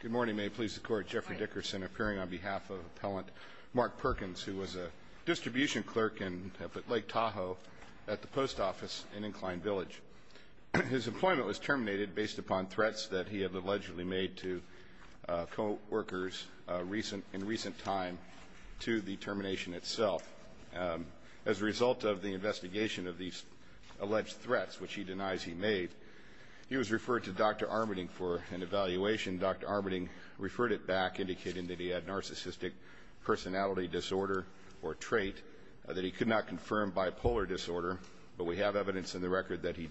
Good morning. May it please the Court. Jeffrey Dickerson appearing on behalf of Appellant Mark Perkins, who was a distribution clerk in Lake Tahoe at the post office in Incline Village. His employment was terminated based upon threats that he had allegedly made to co-workers in recent time to the termination itself. As a result of the investigation of these alleged threats, which he denies he made, he was referred to Dr. Armitage for an evaluation. Dr. Armitage referred it back, indicating that he had narcissistic personality disorder or trait, that he could not confirm bipolar disorder, but we have evidence in the record that he,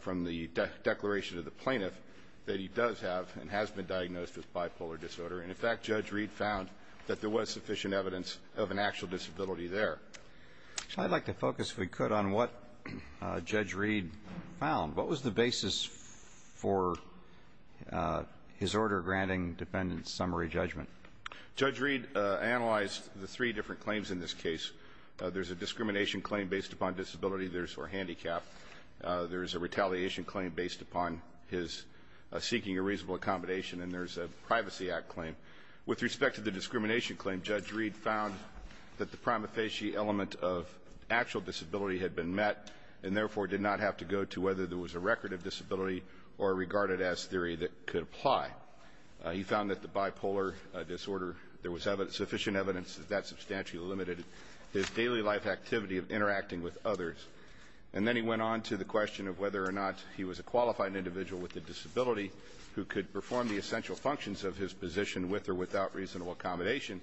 from the declaration of the plaintiff, that he does have and has been diagnosed with bipolar disorder. And in fact, Judge Reed found that there was sufficient evidence of an actual disability there. I'd like to focus, if we could, on what Judge Reed found. What was the basis for his order granting defendants summary judgment? Judge Reed analyzed the three different claims in this case. There's a discrimination claim based upon disability, there's a handicap. There's a retaliation claim based upon his seeking a reasonable accommodation, and there's a Privacy Act claim. With respect to the discrimination claim, Judge Reed found that the prima facie element of actual disability had been met and, therefore, did not have to go to whether there was a record of disability or regarded as theory that could apply. He found that the bipolar disorder, there was sufficient evidence that that substantially limited his daily life activity of interacting with others. And then he went on to the question of whether or not he was a qualified individual with a disability who could perform the essential functions of his position with or without reasonable accommodation.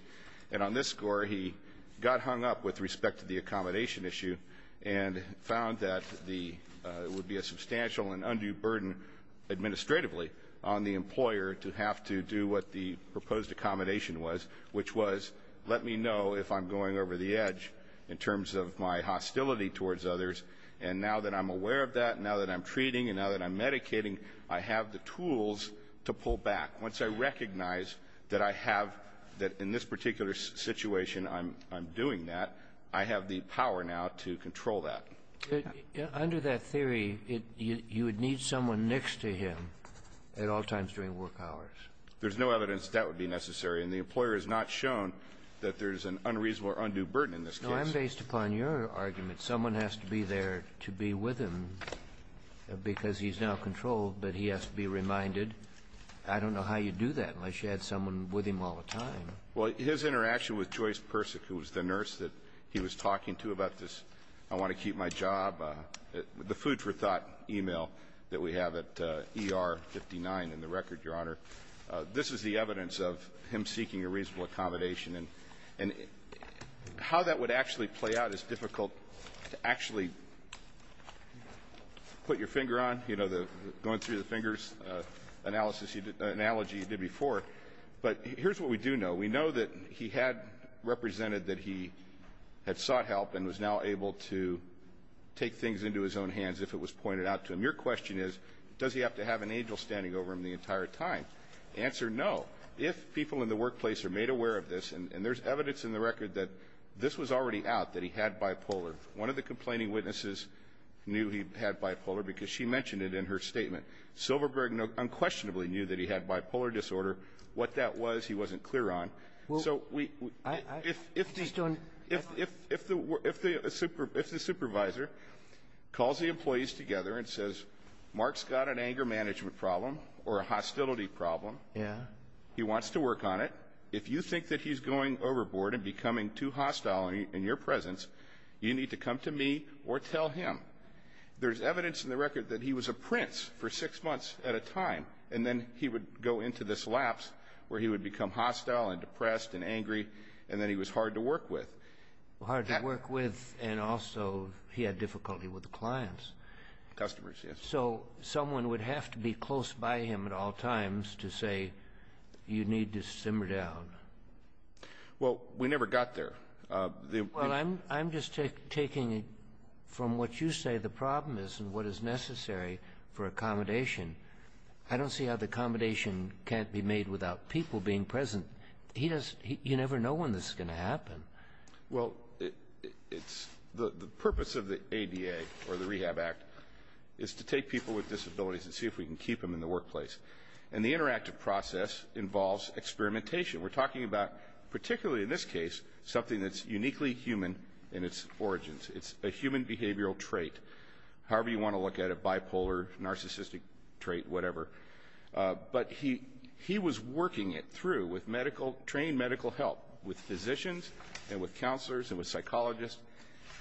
And on this score, he got hung up with respect to the accommodation issue and found that the, it would be a substantial and undue burden administratively on the employer to have to do what the proposed accommodation was, which was, let me know if I'm going over the edge in terms of my hostility towards others. And now that I'm aware of that, now that I'm treating, and now that I'm medicating, I have the tools to pull back. Once I recognize that I have, that in this particular situation I'm doing that, I have the power now to control that. Under that theory, you would need someone next to him at all times during work hours. There's no evidence that that would be necessary. And the employer has not shown that there's an unreasonable or undue burden in this case. No, I'm based upon your argument. Someone has to be there to be with him because he's now controlled, but he has to be reminded. I don't know how you do that unless you had someone with him all the time. Well, his interaction with Joyce Persick, who was the nurse that he was talking to about this I want to keep my job, the food for thought email that we have at ER 59 in the record, Your Honor, this is the evidence of him seeking a reasonable accommodation. And how that would actually play out is difficult to actually put your finger on. You know, the going through the fingers analysis analogy you did before. But here's what we do know. We know that he had represented that he had sought help and was now able to take things into his own hands if it was pointed out to him. Your question is, does he have to have an angel standing over him the entire time? Answer? No. If people in the workplace are made aware of this, and there's evidence in the record that this was already out that he had bipolar, one of the complaining witnesses knew he had bipolar because she mentioned it in her statement. Silverberg unquestionably knew that he had bipolar disorder. What that was, he wasn't clear on. So if the supervisor calls the employees together and says, Mark's got an anger management problem or a hostility problem, he wants to work on it. If you think that he's going overboard and becoming too hostile in your presence, you need to come to me or tell him there's evidence in the record that he was a prince for six months at a time. And then he would go into this lapse where he would become hostile and depressed and angry. And then he was hard to work with. Hard to work with. And also he had difficulty with the clients. Customers. So someone would have to be close by him at all times to say you need to simmer down. Well, we never got there. Well, I'm I'm just taking it from what you say the problem is and what is necessary for accommodation. I don't see how the accommodation can't be made without people being present. He does. You never know when this is going to happen. Well, it's the purpose of the ADA or the Rehab Act is to take people with disabilities and see if we can keep them in the workplace. And the interactive process involves experimentation. We're talking about, particularly in this case, something that's uniquely human in its origins. It's a human behavioral trait. However, you want to look at it, bipolar, narcissistic trait, whatever. But he he was working it through with medical trained medical help, with physicians and with counselors and with psychologists.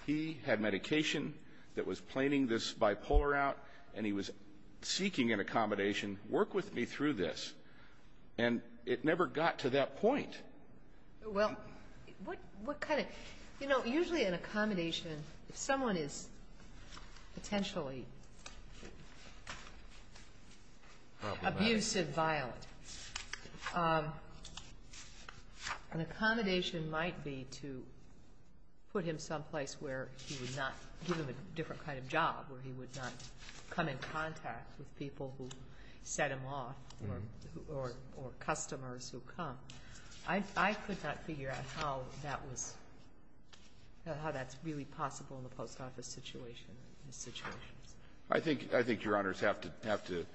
He had medication that was planning this bipolar out and he was seeking an accommodation. Work with me through this. And it never got to that point. Well, what what kind of, you know, usually an accommodation, if someone is potentially abusive, violent, an accommodation might be to put him someplace where he would not give him a different kind of job, where he would not come in contact with people who set him off or customers who come. I could not figure out how that was, how that's really possible in the post office situation. I think I think Your Honors have to have to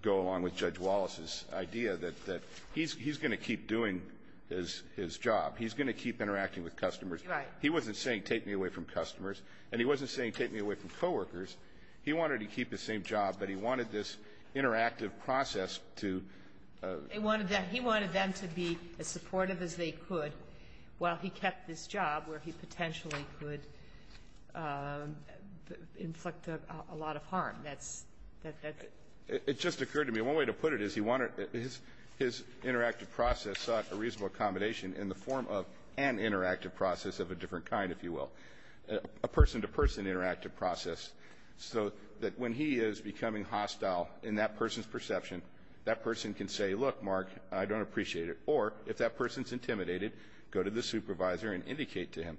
go along with Judge Wallace's idea that that he's going to keep doing his his job. He's going to keep interacting with customers. Right. He wasn't saying take me away from customers and he wasn't saying take me away from co-workers. He wanted to keep the same job, but he wanted this interactive process to. He wanted that. He wanted them to be as supportive as they could while he kept this job where he potentially could inflict a lot of harm. That's that. It just occurred to me one way to put it is he wanted his his interactive process sought a reasonable accommodation in the form of an interactive process of a different kind, if you will, a person to person interactive process so that when he is becoming hostile in that person's perception, that person can say, look, Mark, I don't appreciate it. Or if that person's intimidated, go to the supervisor and indicate to him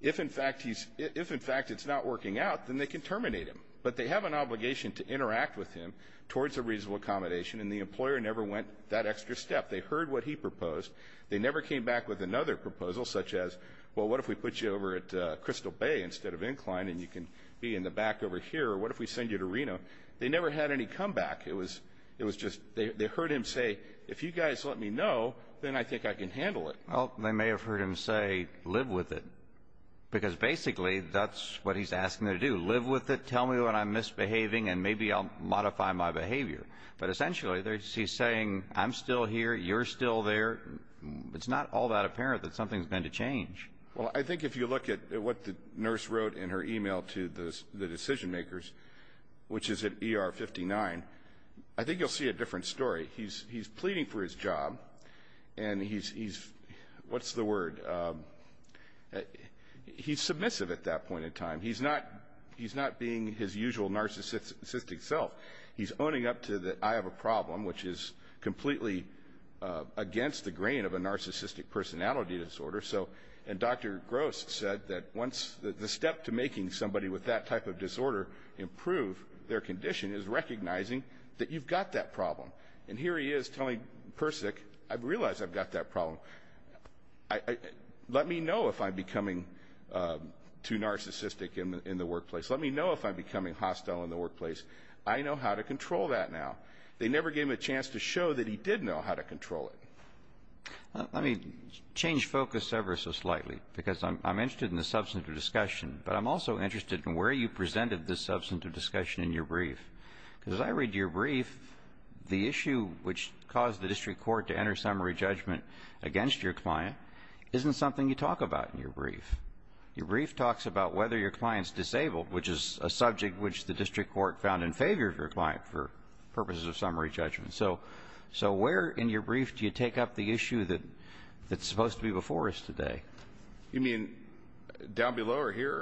if in fact he's if in fact it's not working out, then they can terminate him. But they have an obligation to interact with him towards a reasonable accommodation. And the employer never went that extra step. They heard what he proposed. They never came back with another proposal such as, well, what if we put you over at Crystal Bay instead of incline and you can be in the back over here? What if we send you to Reno? They never had any comeback. It was it was just they heard him say, if you guys let me know, then I think I can handle it. Well, they may have heard him say, live with it, because basically that's what he's asking to do. Live with it. Tell me what I'm misbehaving and maybe I'll modify my behavior. But essentially, they're saying I'm still here. You're still there. It's not all that apparent that something's going to change. Well, I think if you look at what the nurse wrote in her email to the decision makers, which is at ER 59, I think you'll see a different story. He's he's pleading for his job and he's he's what's the word? He's submissive at that point in time. He's not he's not being his usual narcissistic self. He's owning up to that. I have a problem which is completely against the grain of a narcissistic personality disorder. So and Dr. Gross said that once the step to making somebody with that type of disorder improve their condition is recognizing that you've got that problem. And here he is telling Persick, I've realized I've got that problem. Let me know if I'm becoming too narcissistic in the workplace. Let me know if I'm becoming hostile in the workplace. I know how to control that now. They never gave him a chance to show that he did know how to control it. Let me change focus ever so slightly because I'm interested in the substance of discussion, but I'm also interested in where you presented the substance of discussion in your brief because I read your brief. The issue which caused the district court to enter summary judgment against your client isn't something you talk about in your brief. Your brief talks about whether your client's disabled, which is a subject which the district court found in favor of your client for purposes of summary judgment. So so where in your brief do you take up the issue that that's supposed to be before us today? You mean down below or here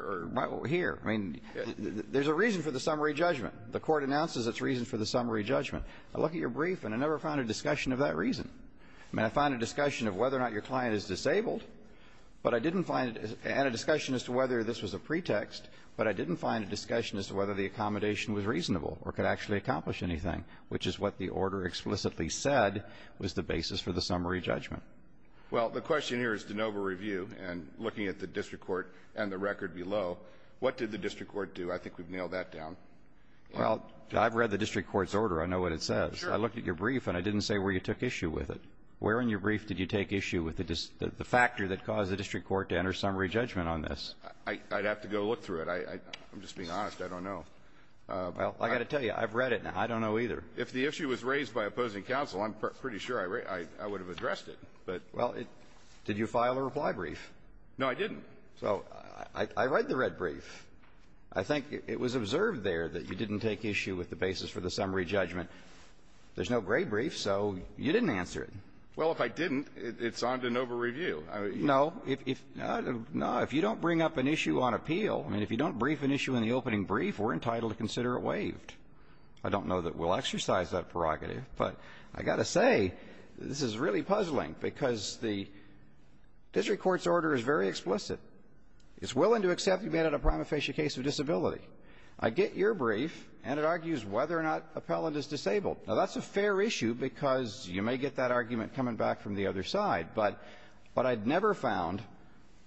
or here? I mean, there's a reason for the summary judgment. The court announces its reason for the summary judgment. I look at your brief and I never found a discussion of that reason. I mean, I find a discussion of whether or not your client is disabled. But I didn't find it and a discussion as to whether this was a pretext. But I didn't find a discussion as to whether the accommodation was reasonable or could actually accomplish anything, which is what the order explicitly said was the basis for the summary judgment. Well, the question here is de novo review and looking at the district court and the record below. What did the district court do? I think we've nailed that down. Well, I've read the district court's order. I know what it says. I looked at your brief and I didn't say where you took issue with it. Where in your brief did you take issue with the factor that caused the district court to enter summary judgment on this? I'd have to go look through it. I'm just being honest. I don't know. Well, I've got to tell you, I've read it now. I don't know either. If the issue was raised by opposing counsel, I'm pretty sure I would have addressed it. But — Well, did you file a reply brief? No, I didn't. So I read the red brief. I think it was observed there that you didn't take issue with the basis for the summary judgment. There's no gray brief, so you didn't answer it. Well, if I didn't, it's on de novo review. No. If you don't bring up an issue on appeal, I mean, if you don't brief an issue in the case, you're entitled to consider it waived. I don't know that we'll exercise that prerogative, but I've got to say, this is really puzzling, because the district court's order is very explicit. It's willing to accept you made it a prima facie case of disability. I get your brief, and it argues whether or not appellant is disabled. Now, that's a fair issue, because you may get that argument coming back from the other side. But what I'd never found,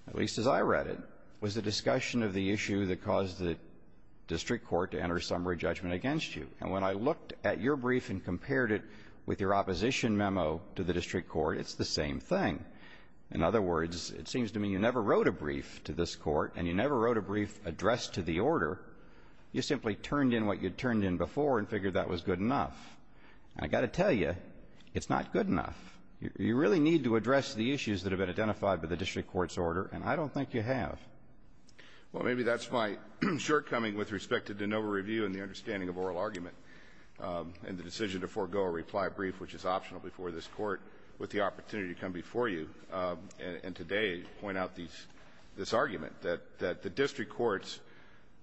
at least as I read it, was a discussion of the issue that caused the district court to enter summary judgment against you. And when I looked at your brief and compared it with your opposition memo to the district court, it's the same thing. In other words, it seems to me you never wrote a brief to this court, and you never wrote a brief addressed to the order. You simply turned in what you'd turned in before and figured that was good enough. And I've got to tell you, it's not good enough. You really need to address the issues that have been identified by the district court's order, and I don't think you have. Well, maybe that's my shortcoming with respect to de novo review and the understanding of oral argument and the decision to forego a reply brief, which is optional before this Court, with the opportunity to come before you and today point out these – this argument, that the district court's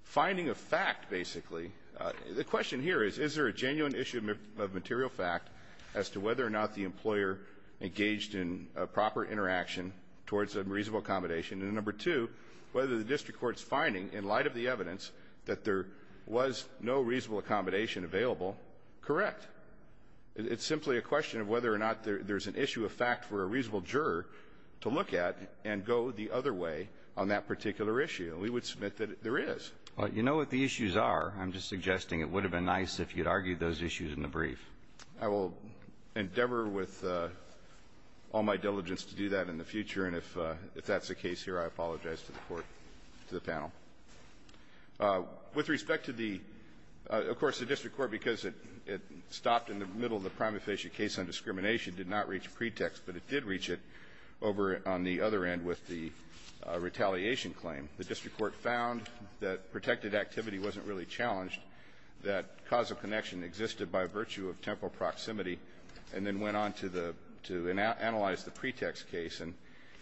finding of fact, basically – the question here is, is there a genuine issue of material fact as to whether or not the employer engaged in a proper interaction towards a reasonable accommodation? And number two, whether the district court's finding, in light of the evidence, that there was no reasonable accommodation available, correct. It's simply a question of whether or not there's an issue of fact for a reasonable juror to look at and go the other way on that particular issue. And we would submit that there is. Well, you know what the issues are. I'm just suggesting it would have been nice if you'd argued those issues in the brief. I will endeavor with all my diligence to do that in the future, and if that's the case here, I apologize to the Court, to the panel. With respect to the – of course, the district court, because it stopped in the middle of the prima facie case on discrimination, did not reach a pretext, but it did reach it over on the other end with the retaliation claim. The district court found that protected activity wasn't really challenged, that causal connection existed by virtue of temporal proximity, and then went on to analyze the pretext case. And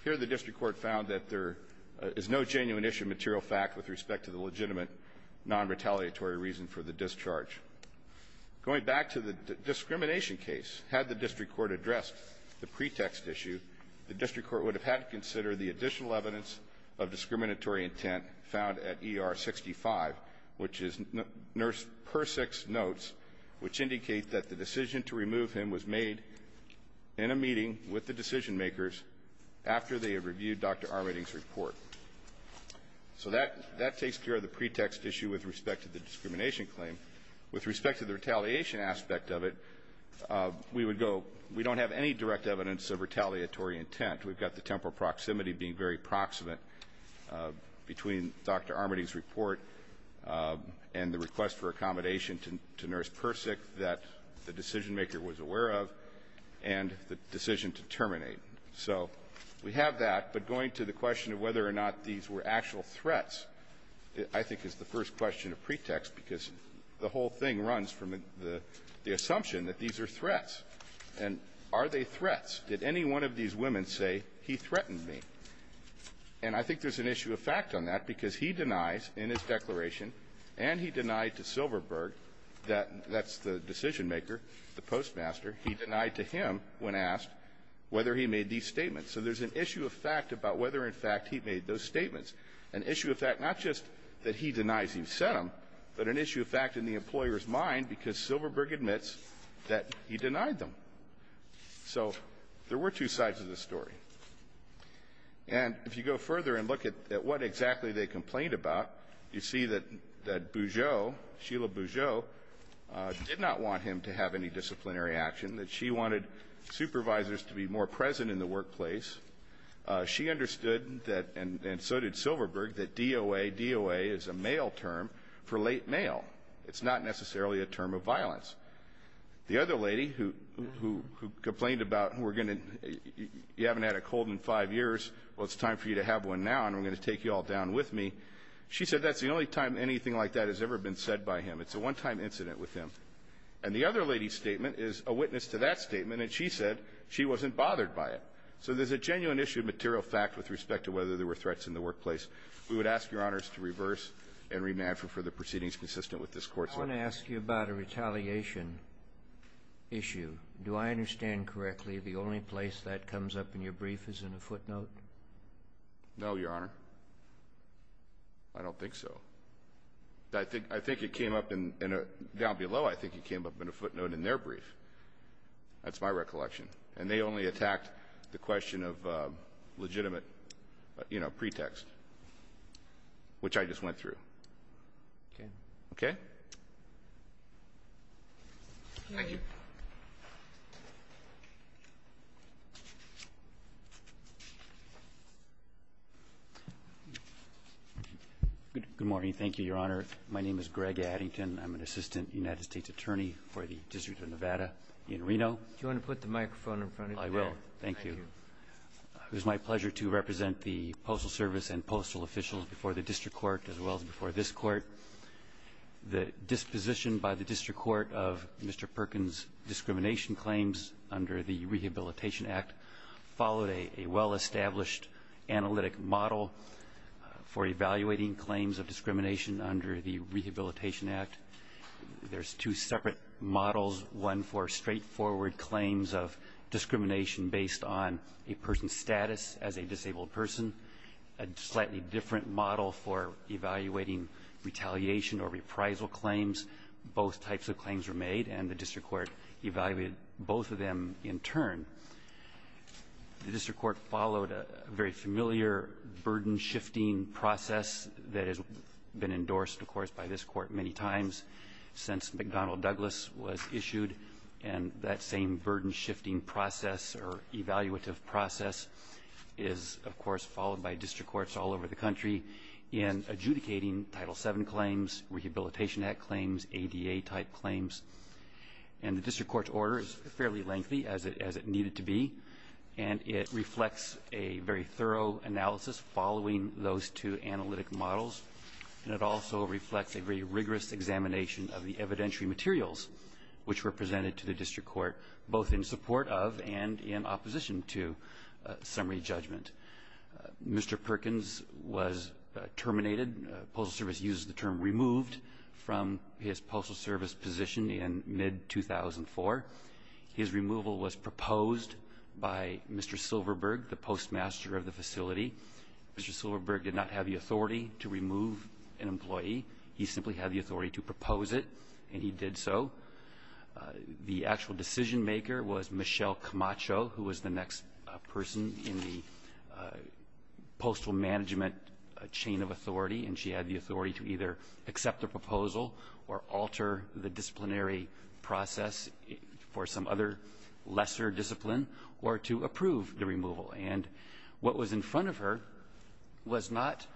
here the district court found that there is no genuine issue of material fact with respect to the legitimate nonretaliatory reason for the discharge. Going back to the discrimination case, had the district court addressed the pretext issue, the district court would have had to consider the additional evidence of discriminatory intent found at ER 65, which is Nurse Persick's notes, which indicate that the decision to remove him was made in a meeting with the decision-makers after they had reviewed Dr. Armitage's report. So that – that takes care of the pretext issue with respect to the discrimination claim. With respect to the retaliation aspect of it, we would go – we don't have any direct evidence of retaliatory intent. We've got the temporal proximity being very proximate between Dr. Armitage's report and the request for accommodation to – to Nurse Persick that the decision maker was aware of, and the decision to terminate. So we have that. But going to the question of whether or not these were actual threats, I think, is the first question of pretext, because the whole thing runs from the – the assumption that these are threats. And are they threats? Did any one of these women say, he threatened me? And I think there's an issue of fact on that, because he denies in his declaration and he denied to Silverberg that – that's the decision-maker, the postmaster. He denied to him, when asked, whether he made these statements. So there's an issue of fact about whether, in fact, he made those statements, an issue of fact not just that he denies he said them, but an issue of fact in the employer's mind because Silverberg admits that he denied them. So there were two sides of the story. And if you go further and look at what exactly they complained about, you see that Bougieau, Sheila Bougieau, did not want him to have any disciplinary action, that she wanted supervisors to be more present in the workplace. She understood that – and so did Silverberg – that DOA – DOA is a male term for late mail. It's not necessarily a term of violence. The other lady who complained about, we're going to – you haven't had a cold in five years, well, it's time for you to have one now and we're going to take you all down with me. She said that's the only time anything like that has ever been said by him. It's a one-time incident with him. And the other lady's statement is a witness to that statement, and she said she wasn't bothered by it. So there's a genuine issue of material fact with respect to whether there were threats in the workplace. We would ask, Your Honors, to reverse and remand for further proceedings consistent with this Court's law. Kennedy. I want to ask you about a retaliation issue. Do I understand correctly the only place that comes up in your brief is in a footnote? No, Your Honor. I don't think so. I think it came up in – down below, I think it came up in a footnote in their brief. That's my recollection. And they only attacked the question of legitimate, you know, pretext, which I just went through. Okay? Okay? Thank you. Good morning. Thank you, Your Honor. My name is Greg Addington. I'm an assistant United States attorney for the District of Nevada in Reno. Do you want to put the microphone in front of you? I will. Thank you. It was my pleasure to represent the Postal Service and postal officials before the District Court as well as before this Court. The disposition by the District Court of Mr. Perkins' discrimination claims under the model for evaluating claims of discrimination under the Rehabilitation Act. There's two separate models, one for straightforward claims of discrimination based on a person's status as a disabled person, a slightly different model for evaluating retaliation or reprisal claims. Both types of claims were made, and the District Court evaluated both of them in turn. The District Court followed a very familiar burden-shifting process that has been endorsed, of course, by this Court many times since McDonnell Douglas was issued, and that same burden-shifting process or evaluative process is, of course, followed by District Courts all over the country in adjudicating Title VII claims, Rehabilitation Act claims, ADA-type claims. And the District Court's order is fairly lengthy, as it needed to be, and it reflects a very thorough analysis following those two analytic models, and it also reflects a very rigorous examination of the evidentiary materials which were presented to the District Court, both in support of and in opposition to summary judgment. Mr. Perkins was terminated. Postal Service uses the term removed from his Postal Service position in mid-2004. His removal was proposed by Mr. Silverberg, the postmaster of the facility. Mr. Silverberg did not have the authority to remove an employee. He simply had the authority to propose it, and he did so. The actual decision-maker was Michelle Camacho, who was the next person in the postal management chain of authority, and she had the authority to either accept the proposal or alter the disciplinary process for some other lesser discipline or to approve the removal. And what was in front of her was not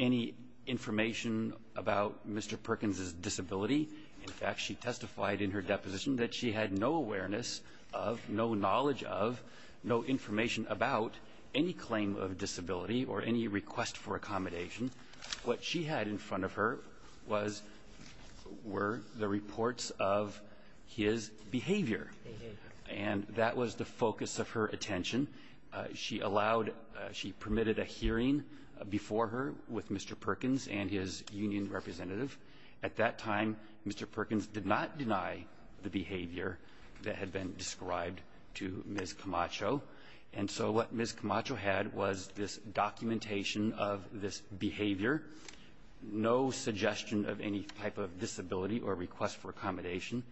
any information about Mr. Perkins' disability. In fact, she testified in her deposition that she had no awareness of, no knowledge of, no information about any claim of disability or any request for accommodation. What she had in front of her was the reports of his behavior. And that was the focus of her attention. She allowed – she permitted a hearing before her with Mr. Perkins and his union representative. At that time, Mr. Perkins did not deny the behavior that had been described to Ms. Camacho. And so what Ms. Camacho had was this documentation of this behavior, no suggestion of any type of disability or request for accommodation.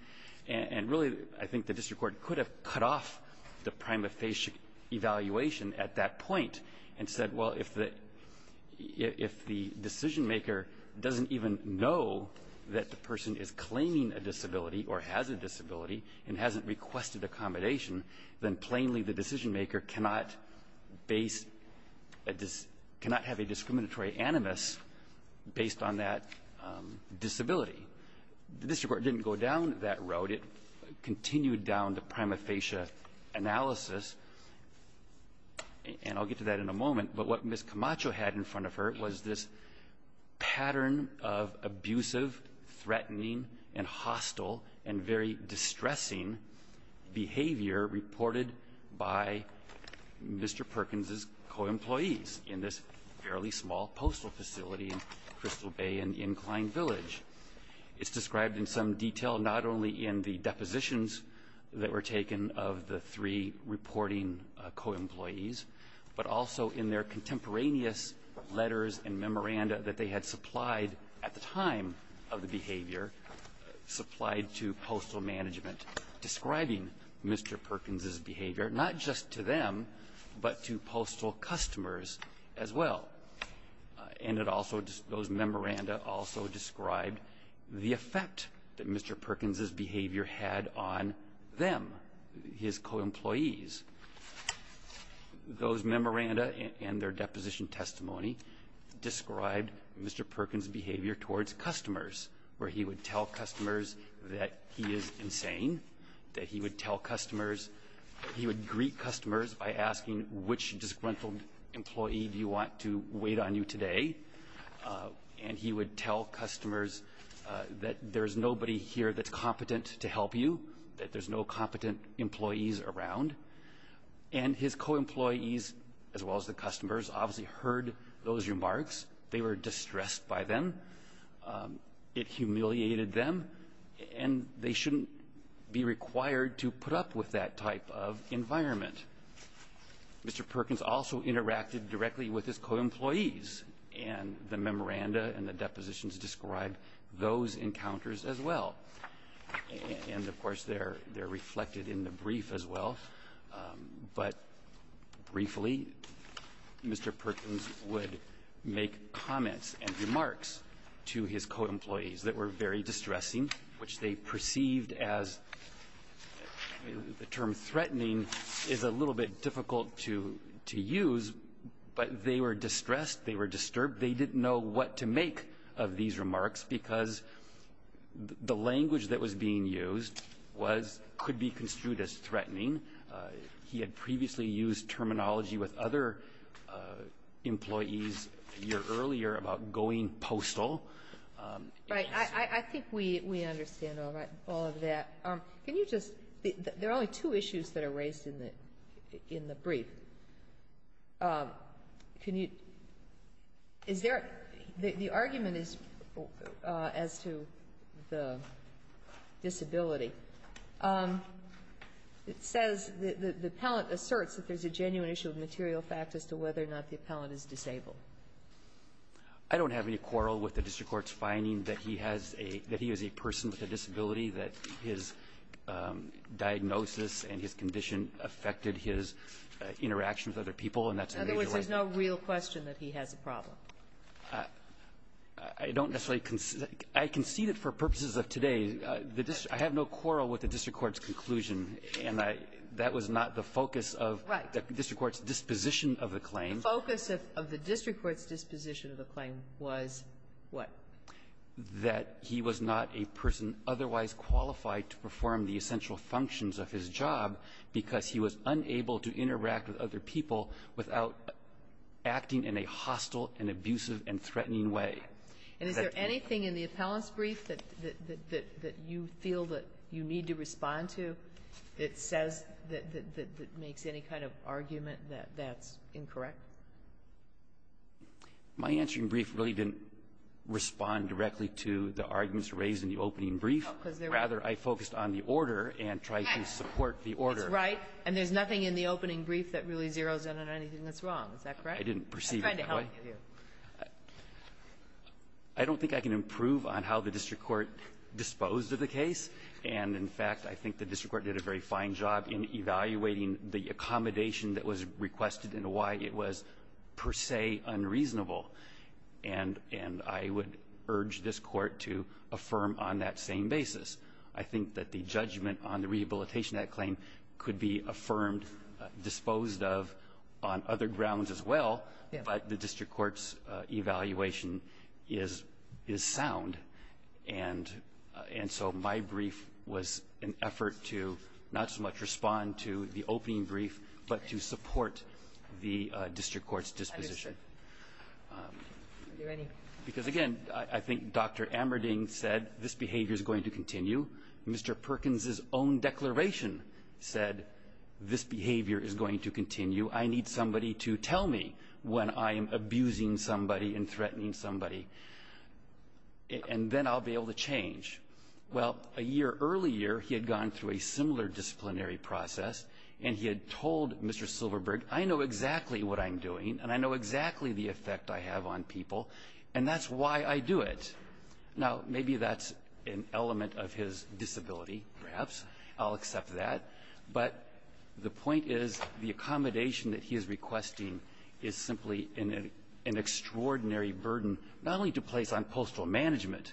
And really, I think the district court could have cut off the prima facie evaluation at that point and said, well, if the – if the decisionmaker doesn't even know that the person is claiming a disability or has a disability and hasn't requested accommodation, then plainly the decisionmaker cannot base a – cannot have a discriminatory animus based on that disability. The district court didn't go down that road. It continued down to prima facie analysis. And I'll get to that in a moment. But what Ms. Camacho had in front of her was this pattern of abusive, threatening, and hostile and very distressing behavior reported by Mr. Perkins's co-employees in this fairly small postal facility in Crystal Bay in Incline Village. It's described in some detail not only in the depositions that were taken of the three reporting co-employees, but also in their contemporaneous letters and memoranda that they had supplied at the time of the behavior, supplied to postal management, describing Mr. Perkins's behavior, not just to them, but to postal customers as well. And it also – those memoranda also described the effect that Mr. Perkins's behavior had on them, his co-employees. Those memoranda and their deposition testimony described Mr. Perkins's behavior towards customers, where he would tell customers that he is insane, that he would tell customers – he would greet customers by asking, which disgruntled employee do you want to wait on you today? And he would tell customers that there's nobody here that's competent to help you, that there's no competent employees around. And his co-employees, as well as the customers, obviously heard those remarks. They were distressed by them. It humiliated them, and they shouldn't be required to put up with that type of environment. Mr. Perkins also interacted directly with his co-employees, and the memoranda and the depositions describe those encounters as well. And, of course, they're reflected in the brief as well. But briefly, Mr. Perkins would make comments and remarks to his co-employees that were very distressing, which they perceived as – the term threatening is a little bit difficult to use, but they were distressed. They were disturbed. They didn't know what to make of these remarks because the language that was being used was – could be construed as threatening. He had previously used terminology with other employees a year earlier about going postal. Right. I think we understand all of that. Can you just – there are only two issues that are raised in the brief. Can you – is there – the argument is – as to the disability, it says the appellant asserts that there's a genuine issue of material fact as to whether or not the appellant is disabled. I don't have any quarrel with the district court's finding that he has a – that affected his interaction with other people, and that's a major one. In other words, there's no real question that he has a problem. I don't necessarily – I concede it for purposes of today. I have no quarrel with the district court's conclusion, and that was not the focus of the district court's disposition of the claim. The focus of the district court's disposition of the claim was what? That he was not a person otherwise qualified to perform the essential functions of his job because he was unable to interact with other people without acting in a hostile and abusive and threatening way. And is there anything in the appellant's brief that you feel that you need to respond to that says – that makes any kind of argument that that's incorrect? My answering brief really didn't respond directly to the arguments raised in the opening brief. Rather, I focused on the order and tried to support the order. That's right. And there's nothing in the opening brief that really zeroes in on anything that's Is that correct? I didn't perceive it that way. I'm trying to help you. I don't think I can improve on how the district court disposed of the case. And, in fact, I think the district court did a very fine job in evaluating the accommodation that was requested and why it was per se unreasonable. And I would urge this court to affirm on that same basis. I think that the judgment on the Rehabilitation Act claim could be affirmed, disposed of on other grounds as well, but the district court's evaluation is sound. And so my brief was an effort to not so much respond to the opening brief but to support the district court's disposition. Because, again, I think Dr. Ammerding said this behavior is going to continue. Mr. Perkins' own declaration said this behavior is going to continue. I need somebody to tell me when I am abusing somebody and threatening somebody. And then I'll be able to change. Well, a year earlier, he had gone through a similar disciplinary process, and he had told Mr. Silverberg, I know exactly what I'm doing, and I know exactly the effect I have on people, and that's why I do it. Now, maybe that's an element of his disability, perhaps. I'll accept that. But the point is the accommodation that he is requesting is simply an extraordinary burden, not only to place on postal management,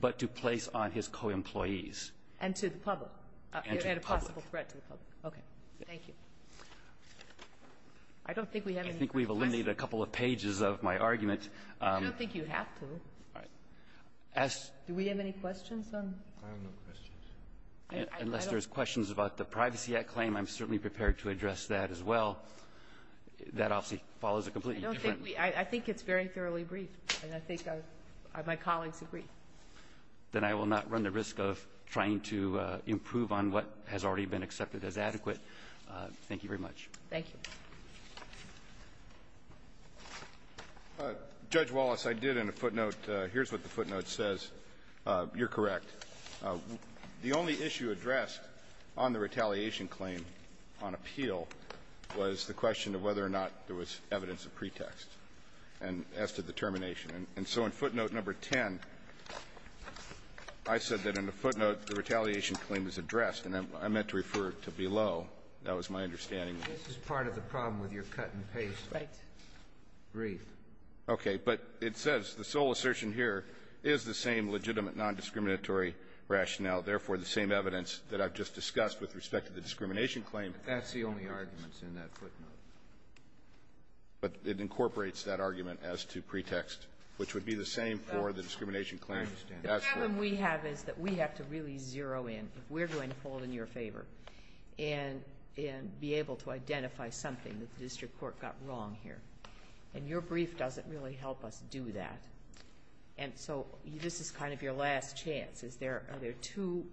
but to place on his co-employees. And to the public. And to the public. And a possible threat to the public. Okay. Thank you. I don't think we have any questions. I think we've eliminated a couple of pages of my argument. I don't think you have to. All right. Do we have any questions on this? I have no questions. Unless there's questions about the Privacy Act claim, I'm certainly prepared to address that as well. That obviously follows a completely different rule. I think it's very thoroughly briefed, and I think my colleagues agree. Then I will not run the risk of trying to improve on what has already been accepted as adequate. Thank you very much. Thank you. Judge Wallace, I did in a footnote. Here's what the footnote says. You're correct. The only issue addressed on the retaliation claim on appeal was the question of whether or not there was evidence of pretext as to the termination. And so in footnote number 10, I said that in the footnote the retaliation claim was addressed. And I meant to refer to below. That was my understanding. This is part of the problem with your cut-and-paste brief. Okay. But it says the sole assertion here is the same legitimate nondiscriminatory rationale, therefore the same evidence that I've just discussed with respect to the discrimination claim. That's the only argument in that footnote. But it incorporates that argument as to pretext, which would be the same for the discrimination claim. I understand. The problem we have is that we have to really zero in. If we're going to hold in your favor and be able to identify something that the district court got wrong here, and your brief doesn't really help us do that. And so this is kind of your last chance. Is there two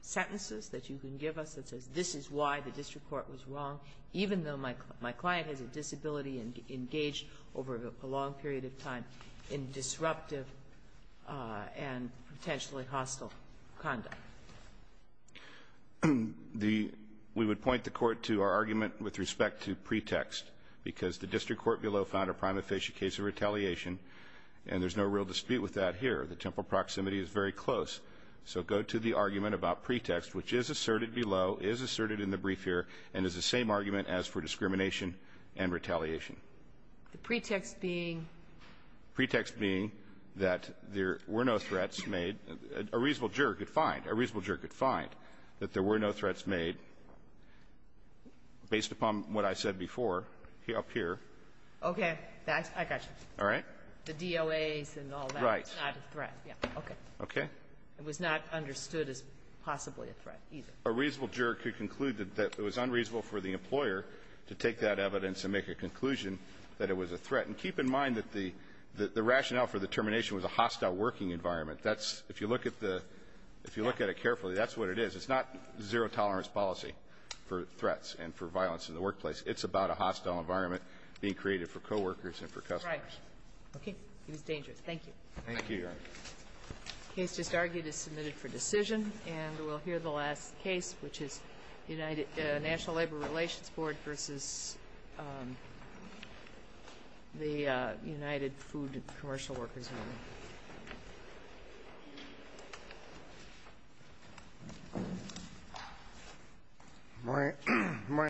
sentences that you can give us that says this is why the district court was wrong, even though my client has a disability and engaged over a long period of time in disruptive and potentially hostile conduct? The we would point the Court to our argument with respect to pretext, because the district court below found a prima facie case of retaliation. And there's no real dispute with that here. The temple proximity is very close. So go to the argument about pretext, which is asserted below, is asserted in the brief here, and is the same argument as for discrimination and retaliation. The pretext being? Pretext being that there were no threats made. A reasonable juror could find. A reasonable juror could find that there were no threats made based upon what I said before up here. Okay. I got you. All right? The DOAs and all that. It was not a threat. Okay. Okay? It was not understood as possibly a threat, either. A reasonable juror could conclude that it was unreasonable for the employer to take that evidence and make a conclusion that it was a threat. And keep in mind that the rationale for the termination was a hostile working environment. That's, if you look at the, if you look at it carefully, that's what it is. It's not zero tolerance policy for threats and for violence in the workplace. It's about a hostile environment being created for coworkers and for customers. Right. Okay. It was dangerous. Thank you. Thank you, Your Honor. The case just argued is submitted for decision. And we'll hear the last case, which is the National Labor Relations Board versus the United Food Commercial Workers Union.